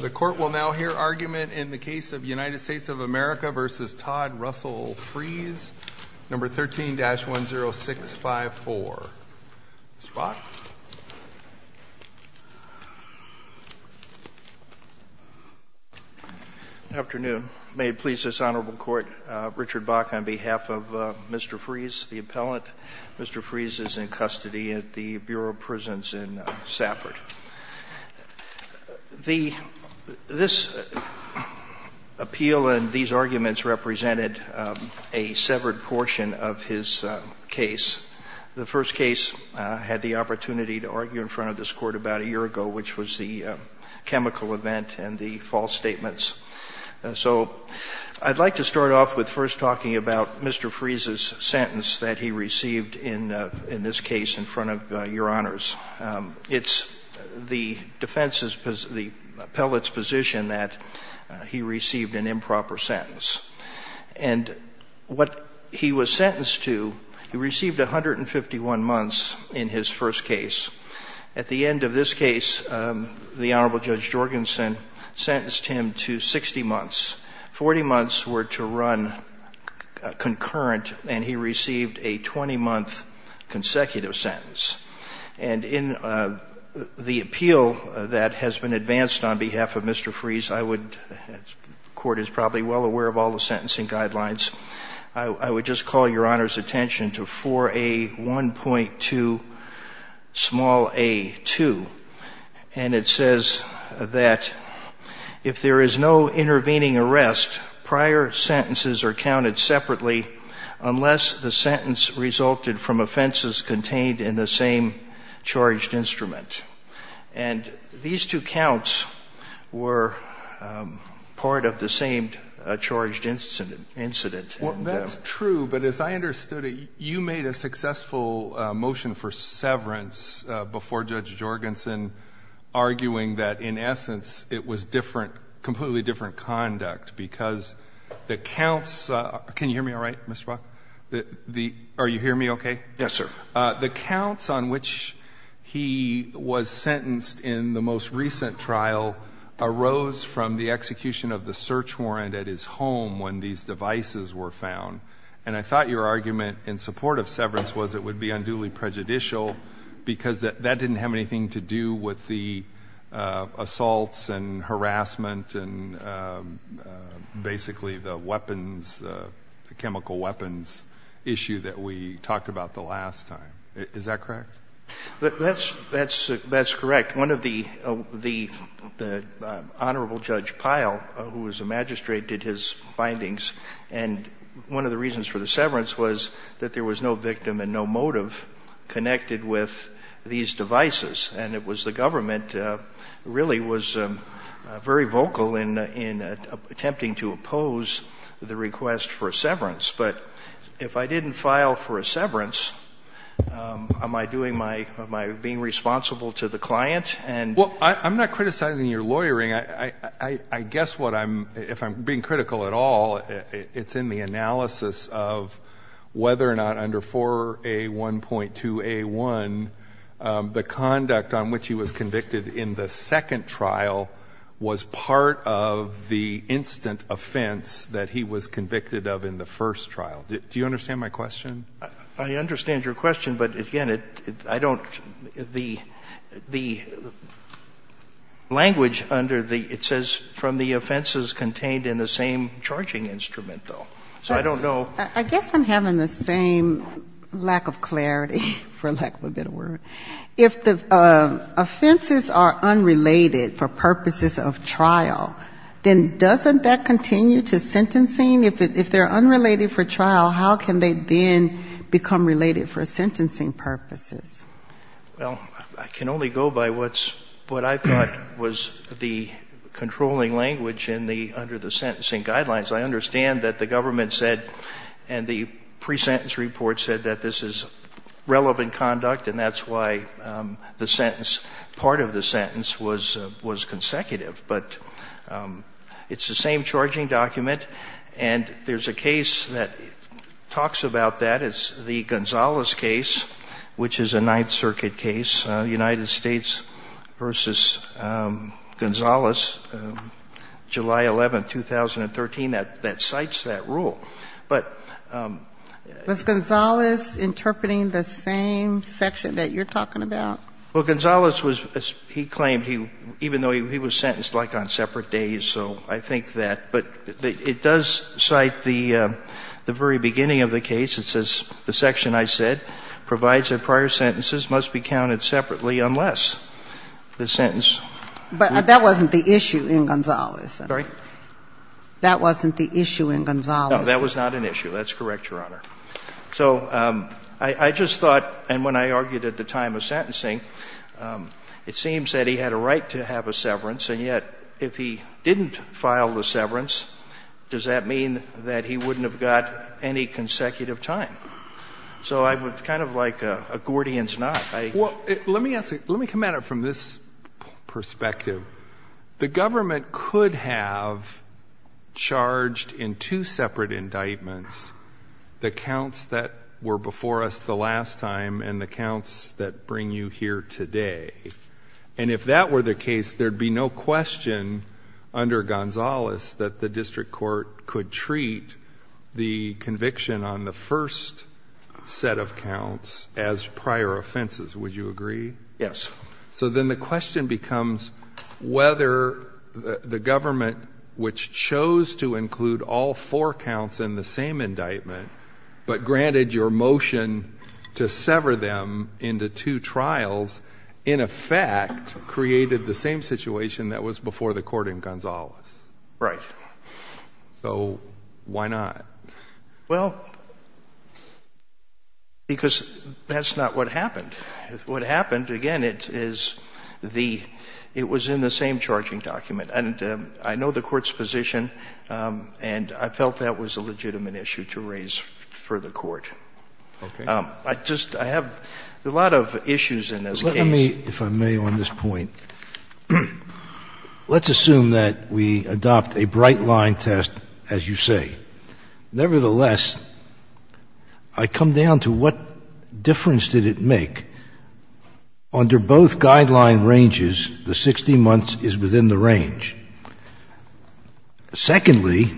The court will now hear argument in the case of United States of America v. Todd Russell Fries, No. 13-10654. Mr. Bach. Good afternoon. May it please this Honorable Court, Richard Bach on behalf of Mr. Fries, the appellant. Mr. Fries is in custody at the Bureau of Prisons in Stafford. This appeal and these arguments represented a severed portion of his case. The first case I had the opportunity to argue in front of this Court about a year ago, which was the chemical event and the false statements. So I'd like to start off with first talking about Mr. Fries' sentence that he received in this case in front of Your Honors. It's the defense's position, the appellate's position that he received an improper sentence. And what he was sentenced to, he received 151 months in his first case. At the end of this case, the Honorable Judge Jorgensen sentenced him to 60 months. Forty months were to run concurrent, and he received a 20-month consecutive sentence. And in the appeal that has been advanced on behalf of Mr. Fries, I would, the Court is probably well aware of all the sentencing guidelines, I would just call Your Honors' attention to 4A1.2 small a 2. And it says that if there is no intervening arrest prior sentences are counted separately unless the sentence resulted from offenses contained in the same charged instrument. And these two counts were part of the same charged incident. That's true, but as I understood it, you made a successful motion for severance before Judge Jorgensen, arguing that in essence it was different, completely different conduct because the counts, can you hear me all right, Mr. Brock? Are you hearing me okay? Yes, sir. The counts on which he was sentenced in the most recent trial arose from the execution of the search warrant at his home when these devices were found. And I thought your argument in support of severance was it would be unduly prejudicial because that didn't have anything to do with the assaults and harassment and basically the weapons, the chemical weapons issue that we talked about the last time. Is that correct? That's correct. One of the, the Honorable Judge Pyle, who was a magistrate, did his findings and one of the reasons for the severance was that there was no victim and no motive connected with these devices. And it was the government really was very vocal in attempting to oppose the request for a severance. But if I didn't file for a severance, am I doing my, am I being responsible to the client and Well, I'm not criticizing your lawyering. I guess what I'm, if I'm being critical at all, it's in the analysis of whether or not under 4A1.2A1, the conduct on which he was convicted in the second trial was part of the instant offense that he was convicted of in the first trial. Do you understand my question? I understand your question, but again, it, I don't, the, the language under the, it says from the offenses contained in the same charging instrument, though. So I don't know. I guess I'm having the same lack of clarity, for lack of a better word. If the offenses are unrelated for purposes of trial, then doesn't that continue to sentencing? If they're unrelated for trial, how can they then become related for sentencing purposes? Well, I can only go by what's, what I thought was the controlling language in the, under the sentencing guidelines. I understand that the government said, and the pre-sentence report said that this is relevant conduct, and that's why the sentence, part of the sentence was, was consecutive. But it's the same charging document, and there's a case that talks about that. It's the Gonzales case, which is a Ninth Circuit case, United States v. Gonzales, July 11, 2013, that, that cites that rule. But the... Was Gonzales interpreting the same section that you're talking about? Well, Gonzales was, he claimed he, even though he was sentenced, like, on separate days, so I think that. But it does cite the, the very beginning of the case. It's the, the section I said provides that prior sentences must be counted separately unless the sentence... But that wasn't the issue in Gonzales. Sorry? That wasn't the issue in Gonzales. No, that was not an issue. That's correct, Your Honor. So I, I just thought, and when I argued at the time of sentencing, it seems that he had a right to have a severance, and yet, if he didn't file the severance, does that mean that he wouldn't have got any consecutive time? So I would kind of like a, a Gordian's knot. I... Well, let me ask you, let me come at it from this perspective. The government could have charged in two separate indictments the counts that were before us the last time and the counts that bring you here today. And if that were the case, there would be no question under Gonzales that the district court could treat the consecutive conviction on the first set of counts as prior offenses. Would you agree? Yes. So then the question becomes whether the government, which chose to include all four counts in the same indictment, but granted your motion to sever them into two trials, in effect, created the same situation that was before the court in Gonzales. Right. So why not? Well, because that's not what happened. What happened, again, it is the, it was in the same charging document. And I know the court's position, and I felt that was a legitimate issue to raise for the court. Okay. I just, I have a lot of issues in this case. Well, let me, if I may, on this point, let's assume that we adopt a bright-line test, as you say. Nevertheless, I come down to what difference did it make? Under both guideline ranges, the 60 months is within the range. Secondly,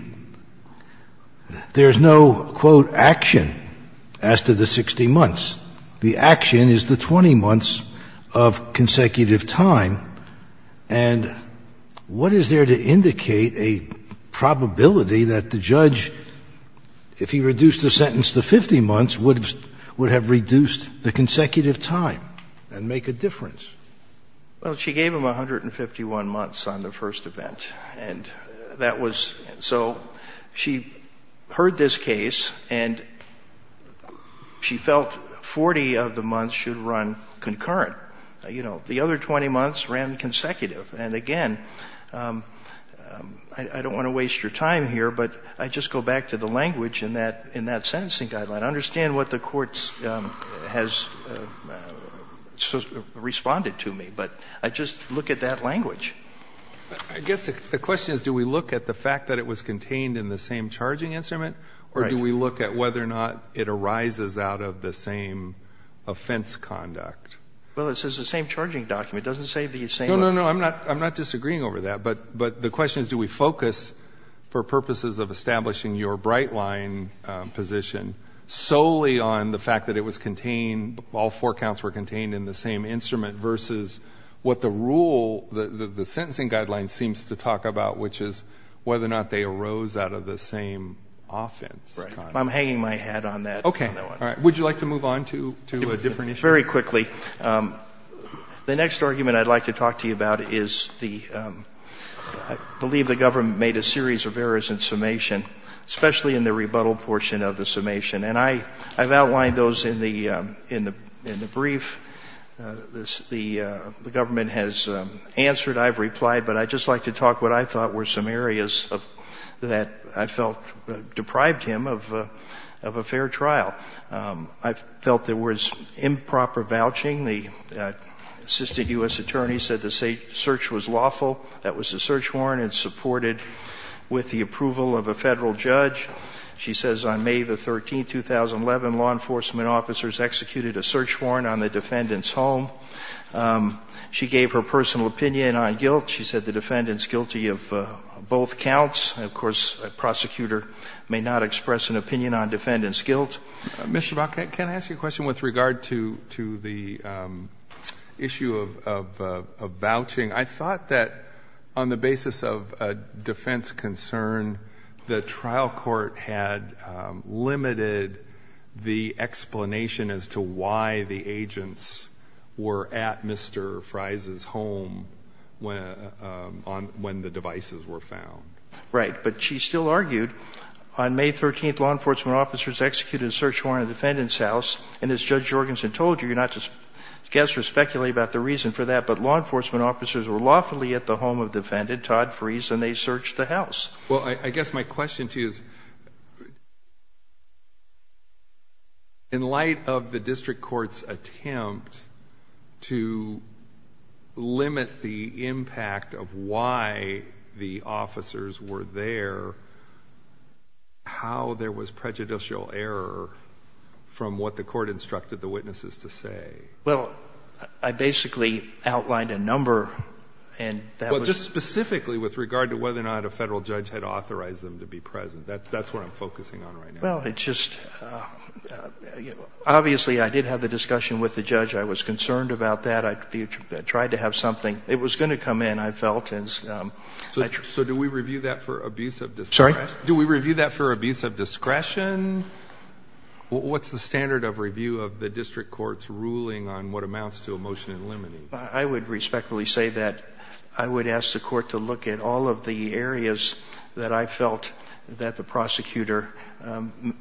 there's no, quote, action as to the 60 months. The action is the 20 months of consecutive time. And what is there to indicate a probability that the judge, if he reduced the sentence to 50 months, would have reduced the consecutive time and make a difference? Well, she gave him 151 months on the first event. And that was, so she heard this case, and she felt 40 of the months should run concurrent. You know, the other 20 months ran consecutive. And again, I don't want to waste your time here, but I just go back to the language in that, in that sentencing guideline. I understand what the court has responded to me, but I just look at that language. I guess the question is, do we look at the fact that it was contained in the same charging instrument, or do we look at whether or not it arises out of the same offense conduct? Well, it says the same charging document. It doesn't say the same... No, no, no. I'm not disagreeing over that. But the question is, do we focus, for purposes of establishing your bright line position, solely on the fact that it was contained, all four counts were contained in the same instrument, versus what the rule, the sentencing guideline seems to talk about, which is whether or not they arose out of the same offense conduct. Right. I'm hanging my hat on that. Okay. All right. Would you like to move on to a different issue? Very quickly. The next argument I'd like to talk to you about is the, I believe the government made a series of errors in summation, especially in the rebuttal portion of the summation. And I, I've outlined those in the, in the, in the brief. The, the government has answered, I've replied, but I'd just like to talk about what I thought were some areas of, that I felt deprived him of, of a fair trial. I felt there was improper vouching. The assisted U.S. attorney said the search was lawful. That was the search warrant. It's supported with the approval of a Federal judge. She says on May the 13th, 2011, law enforcement officers executed a search warrant on the defendant's home. She gave her personal opinion on guilt. She said the defendant's guilty of both counts. Of course, a prosecutor may not express an opinion on defendant's guilt. Mr. Brockett, can I ask you a question with regard to, to the issue of, of, of vouching? I thought that on the basis of a defense concern, the trial court had limited the explanation as to why the agents were at Mr. Fries' home when, on, when the devices were found. Right. But she still argued on May 13th, law enforcement officers executed a search warrant on the defendant's house. And as Judge Jorgensen told you, you're not to guess or speculate about the reason for that, but law enforcement officers were lawfully at the home of the defendant, Todd Fries, and they searched the house. Well, I guess my question to you is, in light of the district court's attempt to limit the impact of why the officers were there, how there was prejudicial error from what the court instructed the witnesses to say? Well, I basically outlined a number, and that was specifically with regard to whether or not a Federal judge had authorized them to be present. That's, that's what I'm focusing on right now. Well, it's just, obviously, I did have the discussion with the judge. I was concerned about that. I tried to have something. It was going to come in, I felt. So, so do we review that for abuse of discretion? Sorry? Do we review that for abuse of discretion? What's the standard of review of the district court's ruling on what amounts to a motion in limine? I would respectfully say that I would ask the court to look at all of the areas that I felt that the prosecutor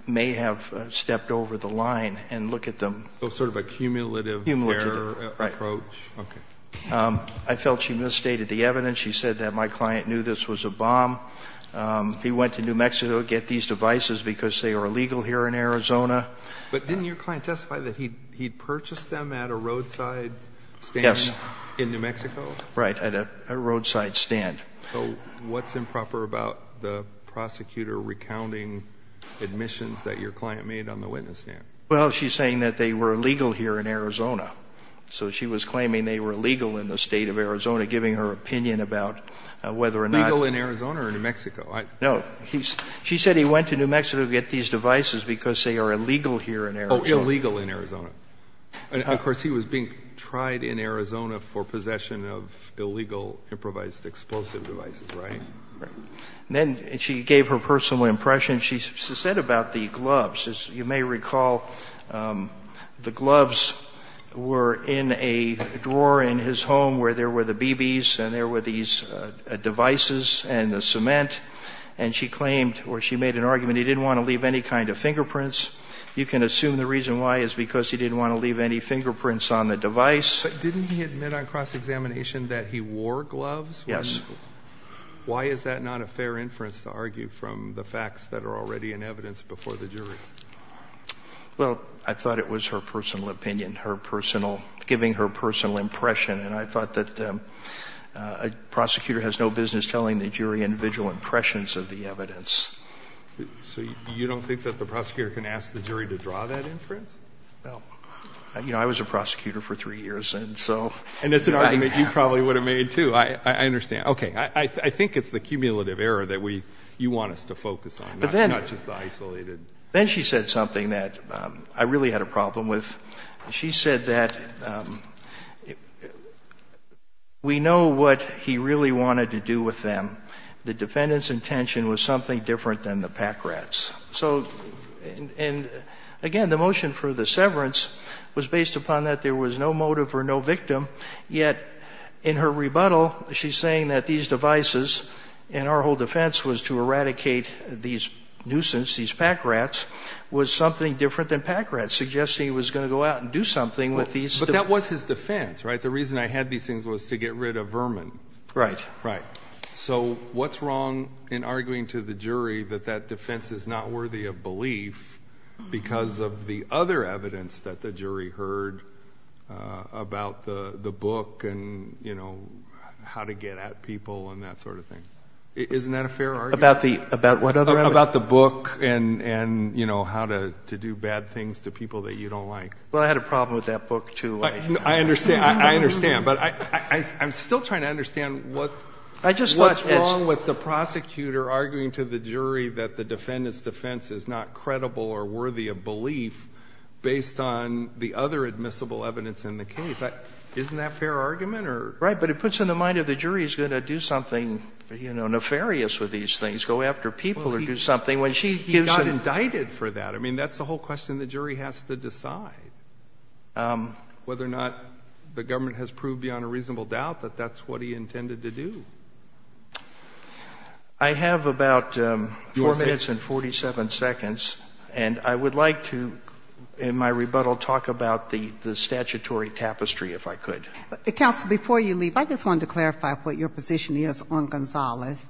may have stepped over the line and look at them. Oh, sort of a cumulative error approach? Cumulative, right. Okay. I felt she misstated the evidence. She said that my client knew this was a bomb. He went to New Mexico to get these devices because they are illegal here in Arizona. But didn't your client testify that he, he purchased them at a roadside stand? Yes. In New Mexico? Right. At a roadside stand. So what's improper about the prosecutor recounting admissions that your client made on the witness stand? Well, she's saying that they were illegal here in Arizona. So she was claiming they were illegal in the State of Arizona, giving her opinion about whether or not. Legal in Arizona or New Mexico? No. She said he went to New Mexico to get these devices because they are illegal here in Arizona. Oh, illegal in Arizona. And, of course, he was being tried in Arizona for possession of illegal, improvised explosive devices, right? Right. And then she gave her personal impression. She said about the gloves. As you may recall, the gloves were in a drawer in his home where there were the BBs and there were these devices and the cement. And she claimed, or she made an argument, he didn't want to leave any kind of fingerprints. You can assume the reason why is because he didn't want to leave any fingerprints on the device. But didn't he admit on cross-examination that he wore gloves? Yes. Why is that not a fair inference to argue from the facts that are already in evidence before the jury? Well, I thought it was her personal opinion, her personal, giving her personal impression, and I thought that a prosecutor has no business telling the jury the individual impressions of the evidence. So you don't think that the prosecutor can ask the jury to draw that inference? No. You know, I was a prosecutor for three years, and so. And it's an argument you probably would have made, too. I understand. Okay. I think it's the cumulative error that you want us to focus on, not just the isolated. But then she said something that I really had a problem with. She said that we know what he really wanted to do with them. The defendant's intention was something different than the pack rats. So, and again, the motion for the severance was based upon that there was no motive or no victim, yet in her rebuttal, she's saying that these devices, and our whole defense was to eradicate these nuisances, these pack rats, was something different than pack rats, suggesting he was going to go out and do something with these. But that was his defense, right? The reason I had these things was to get rid of vermin. Right. Right. So what's wrong in arguing to the jury that that defense is not worthy of belief because of the other evidence that the jury heard about the book and, you know, how to get at people and that sort of thing? Isn't that a fair argument? About the, about what other evidence? About the book and, you know, how to do bad things to people that you don't like. Well, I had a problem with that book, too. I understand. I understand. But I'm still trying to understand what's wrong with the prosecutor arguing to the jury that the defendant's defense is not credible or worthy of belief based on the other admissible evidence in the case. Isn't that a fair argument? Right. But it puts in the mind of the jury he's going to do something, you know, nefarious with these things, go after people or do something when she gives him. He got indicted for that. I mean, that's the whole question the jury has to decide, whether or not the government has proved beyond a reasonable doubt that that's what he intended to do. I have about 4 minutes and 47 seconds. And I would like to, in my rebuttal, talk about the statutory tapestry, if I could. Counsel, before you leave, I just wanted to clarify what your position is on Gonzalez.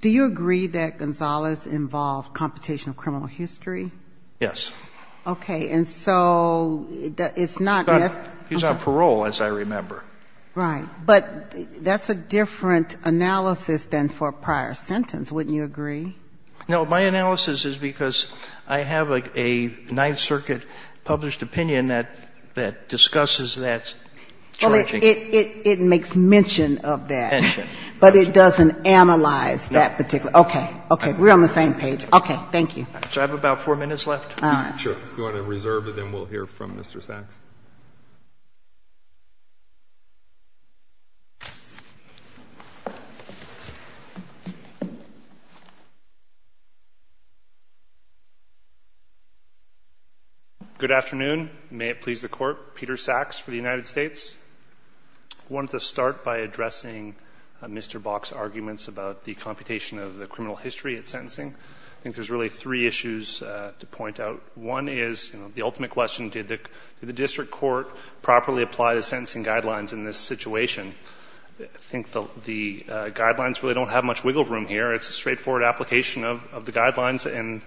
Do you agree that Gonzalez involved computational criminal history? Yes. Okay. And so it's not just he's on parole, as I remember. Right. But that's a different analysis than for a prior sentence. Wouldn't you agree? No. My analysis is because I have a Ninth Circuit published opinion that discusses that. Well, it makes mention of that. Mention. But it doesn't analyze that particular. Okay. Okay. We're on the same page. Okay. Thank you. So I have about 4 minutes left. All right. Sure. If you want to reserve, then we'll hear from Mr. Sachs. Good afternoon. May it please the Court. Peter Sachs for the United States. I wanted to start by addressing Mr. Bok's arguments about the computation of the criminal history at sentencing. I think there's really three issues to point out. One is, you know, the ultimate question, did the district court properly apply the sentencing guidelines in this situation? I think the guidelines really don't have much wiggle room here. It's a straightforward application of the guidelines, and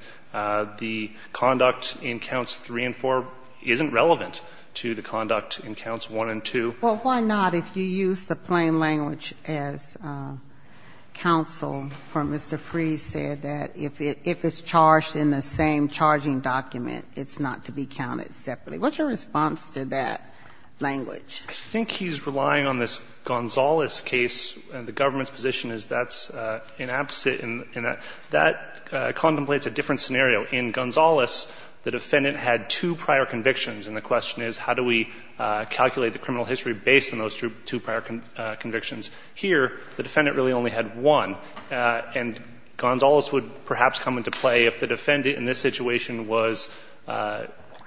the conduct in counts 1 and 2. Well, why not? If you use the plain language as counsel from Mr. Freese said, that if it's charged in the same charging document, it's not to be counted separately. What's your response to that language? I think he's relying on this Gonzales case, and the government's position is that's an opposite. That contemplates a different scenario. In Gonzales, the defendant had two prior convictions, and the question is how do we calculate the criminal history based on those two prior convictions? Here, the defendant really only had one, and Gonzales would perhaps come into play if the defendant in this situation was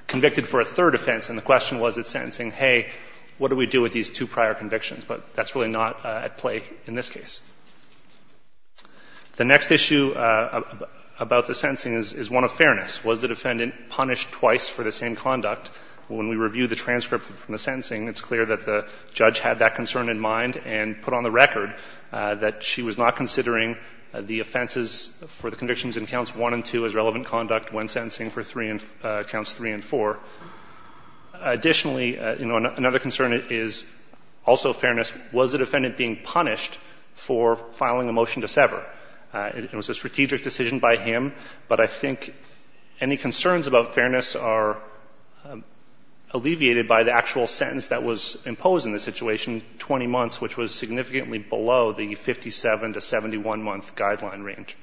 convicted for a third offense, and the question was at sentencing, hey, what do we do with these two prior convictions? But that's really not at play in this case. The next issue about the sentencing is one of fairness. Was the defendant punished twice for the same conduct? When we review the transcript from the sentencing, it's clear that the judge had that concern in mind and put on the record that she was not considering the offenses for the convictions in counts 1 and 2 as relevant conduct when sentencing for counts 3 and 4. Additionally, you know, another concern is also fairness. Was the defendant being punished for filing a motion to sever? It was a strategic decision by him, but I think any concerns about fairness are, are alleviated by the actual sentence that was imposed in the situation, 20 months, which was significantly below the 57 to 71-month guideline range.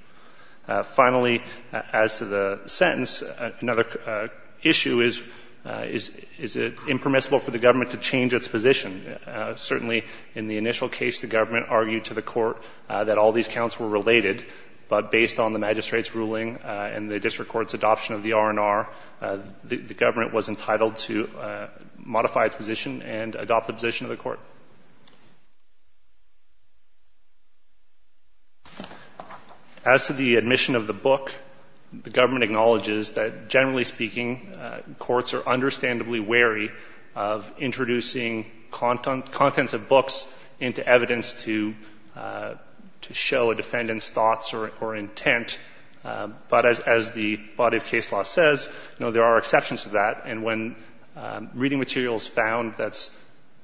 Finally, as to the sentence, another issue is, is it impermissible for the government to change its position? Certainly in the initial case, the government argued to the court that all these counts were related, but based on the magistrate's ruling and the district court's ruling on the adoption of the R&R, the government was entitled to modify its position and adopt the position of the court. As to the admission of the book, the government acknowledges that generally speaking, courts are understandably wary of introducing contents of books into evidence to show a defendant's thoughts or intent. But as the body of case law says, no, there are exceptions to that. And when reading material is found that's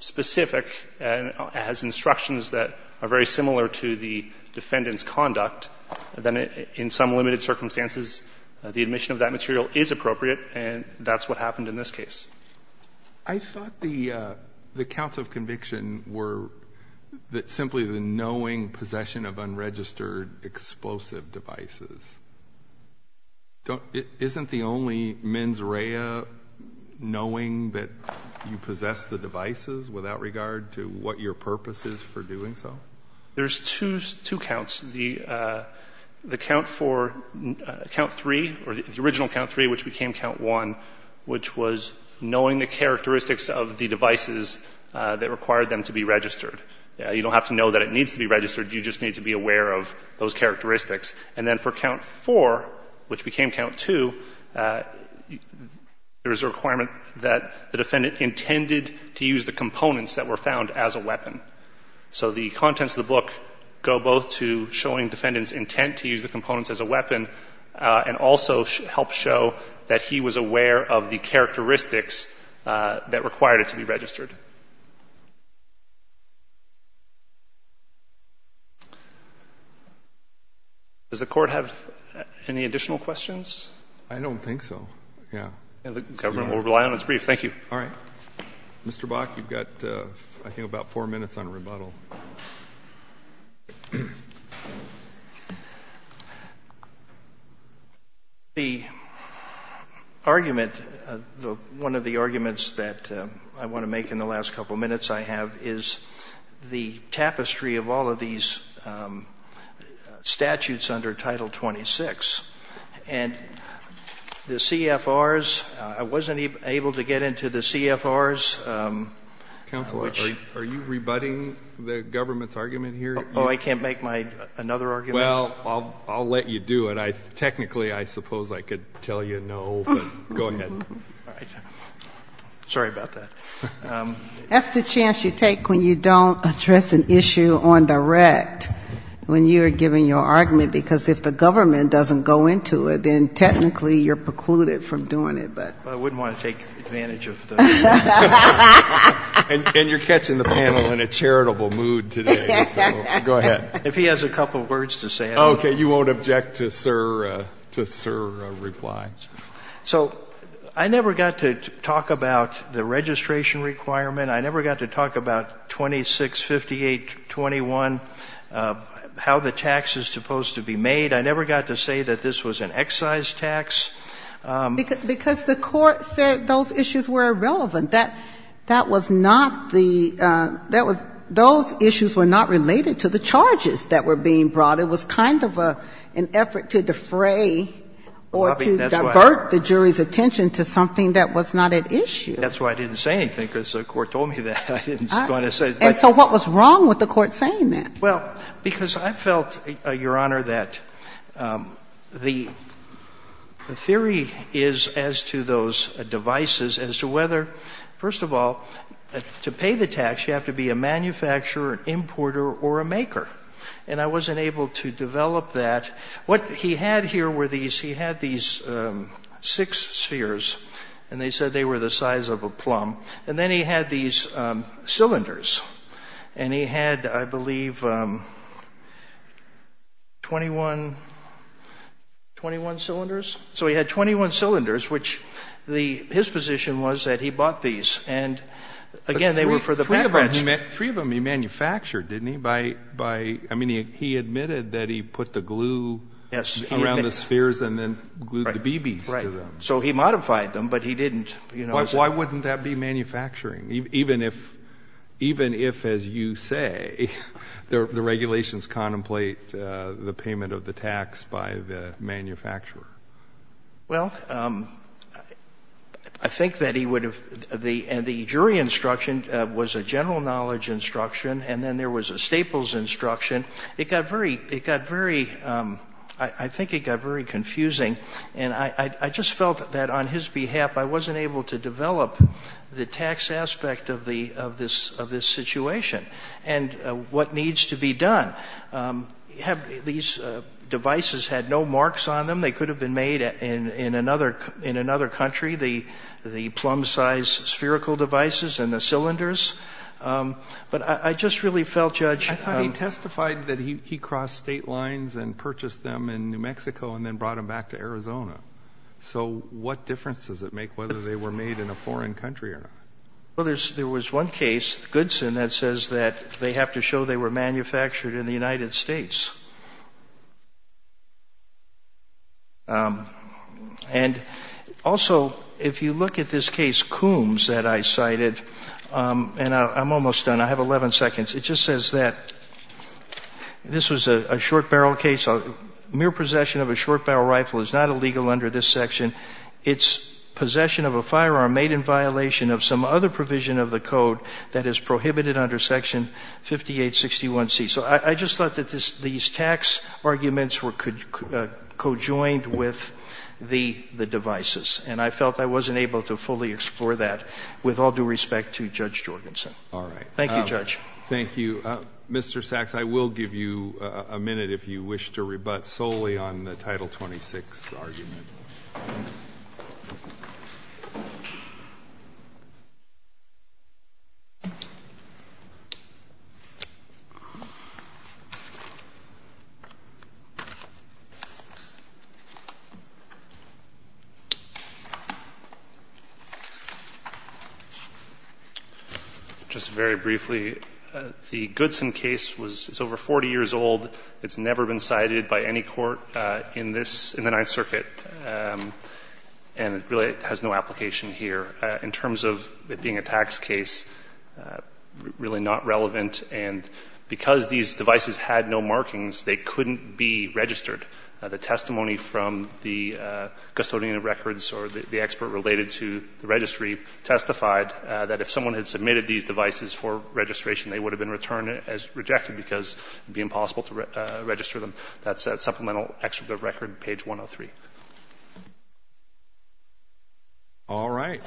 specific and has instructions that are very similar to the defendant's conduct, then in some limited circumstances, the admission of that material is appropriate, and that's what happened in this case. I thought the counts of conviction were simply the knowing possession of unregistered explosive devices. Isn't the only mens rea knowing that you possess the devices without regard to what your purpose is for doing so? There's two counts. The count for, count three, or the original count three, which became count one, which was knowing the characteristics of the devices that required them to be registered. You don't have to know that it needs to be registered. You just need to be aware of those characteristics. And then for count four, which became count two, there is a requirement that the defendant intended to use the components that were found as a weapon. So the contents of the book go both to showing defendant's intent to use the components as a weapon and also help show that he was aware of the characteristics that required it to be registered. Does the Court have any additional questions? I don't think so. Yeah. The government will rely on its brief. Thank you. All right. Mr. Bach, you've got, I think, about 4 minutes on rebuttal. I have is the tapestry of all of these statutes under Title 26. And the CFRs, I wasn't able to get into the CFRs. Counselor, are you rebutting the government's argument here? Oh, I can't make another argument? Well, I'll let you do it. Technically, I suppose I could tell you no, but go ahead. All right. Sorry about that. That's the chance you take when you don't address an issue on direct, when you are giving your argument, because if the government doesn't go into it, then technically you're precluded from doing it. But I wouldn't want to take advantage of the. And you're catching the panel in a charitable mood today. So go ahead. If he has a couple of words to say. Okay. You won't object to Sir's reply. So I never got to talk about the registration requirement. I never got to talk about 265821, how the tax is supposed to be made. I never got to say that this was an excise tax. Because the Court said those issues were irrelevant. That was not the, that was, those issues were not related to the charges that were being brought. It was kind of an effort to defray or to divert the jury's attention to something that was not at issue. That's why I didn't say anything, because the Court told me that. I didn't want to say. And so what was wrong with the Court saying that? Well, because I felt, Your Honor, that the theory is as to those devices, as to whether first of all, to pay the tax you have to be a manufacturer, an importer or a maker. And I wasn't able to develop that. What he had here were these, he had these six spheres. And they said they were the size of a plum. And then he had these cylinders. And he had, I believe, 21 cylinders. So he had 21 cylinders, which his position was that he bought these. And, again, they were for the bankrupts. Three of them he manufactured, didn't he? I mean, he admitted that he put the glue around the spheres and then glued the BBs to them. Right. So he modified them, but he didn't. Why wouldn't that be manufacturing, even if, as you say, the regulations contemplate the payment of the tax by the manufacturer? Well, I think that he would have, and the jury instruction was a general knowledge instruction. And then there was a Staples instruction. It got very, it got very, I think it got very confusing. And I just felt that on his behalf I wasn't able to develop the tax aspect of this situation and what needs to be done. These devices had no marks on them. They could have been made in another country, the plumb-sized spherical devices and the cylinders. But I just really felt, Judge ---- I thought he testified that he crossed state lines and purchased them in New Mexico and then brought them back to Arizona. So what difference does it make whether they were made in a foreign country or not? Well, there was one case, Goodson, that says that they have to show they were manufactured in the United States. And also, if you look at this case, Coombs, that I cited, and I'm almost done. I have 11 seconds. It just says that this was a short barrel case. Mere possession of a short barrel rifle is not illegal under this section. It's possession of a firearm made in violation of some other provision of the code that is prohibited under Section 5861C. So I just thought that these tax arguments were co-joined with the devices. And I felt I wasn't able to fully explore that with all due respect to Judge Jorgensen. Thank you, Judge. Thank you. Mr. Sachs, I will give you a minute if you wish to rebut solely on the Title 26 argument. Just very briefly, the Goodson case was over 40 years old. It's never been cited by any court in this, in the Ninth Circuit. And it really has no application here. In terms of it being a tax case, really not relevant. And because these devices had no markings, they couldn't be registered. The testimony from the custodian of records or the expert related to the registry testified that if someone had submitted these devices for registration, they would have been rejected because it would be impossible to register them. That's at Supplemental Excerpt of Record, page 103. All right.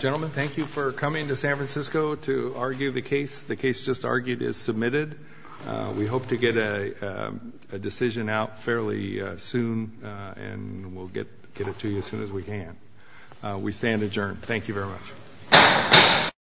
Gentlemen, thank you for coming to San Francisco to argue the case. The case just argued is submitted. We hope to get a decision out fairly soon, and we'll get it to you as soon as we can. We stand adjourned. Thank you very much.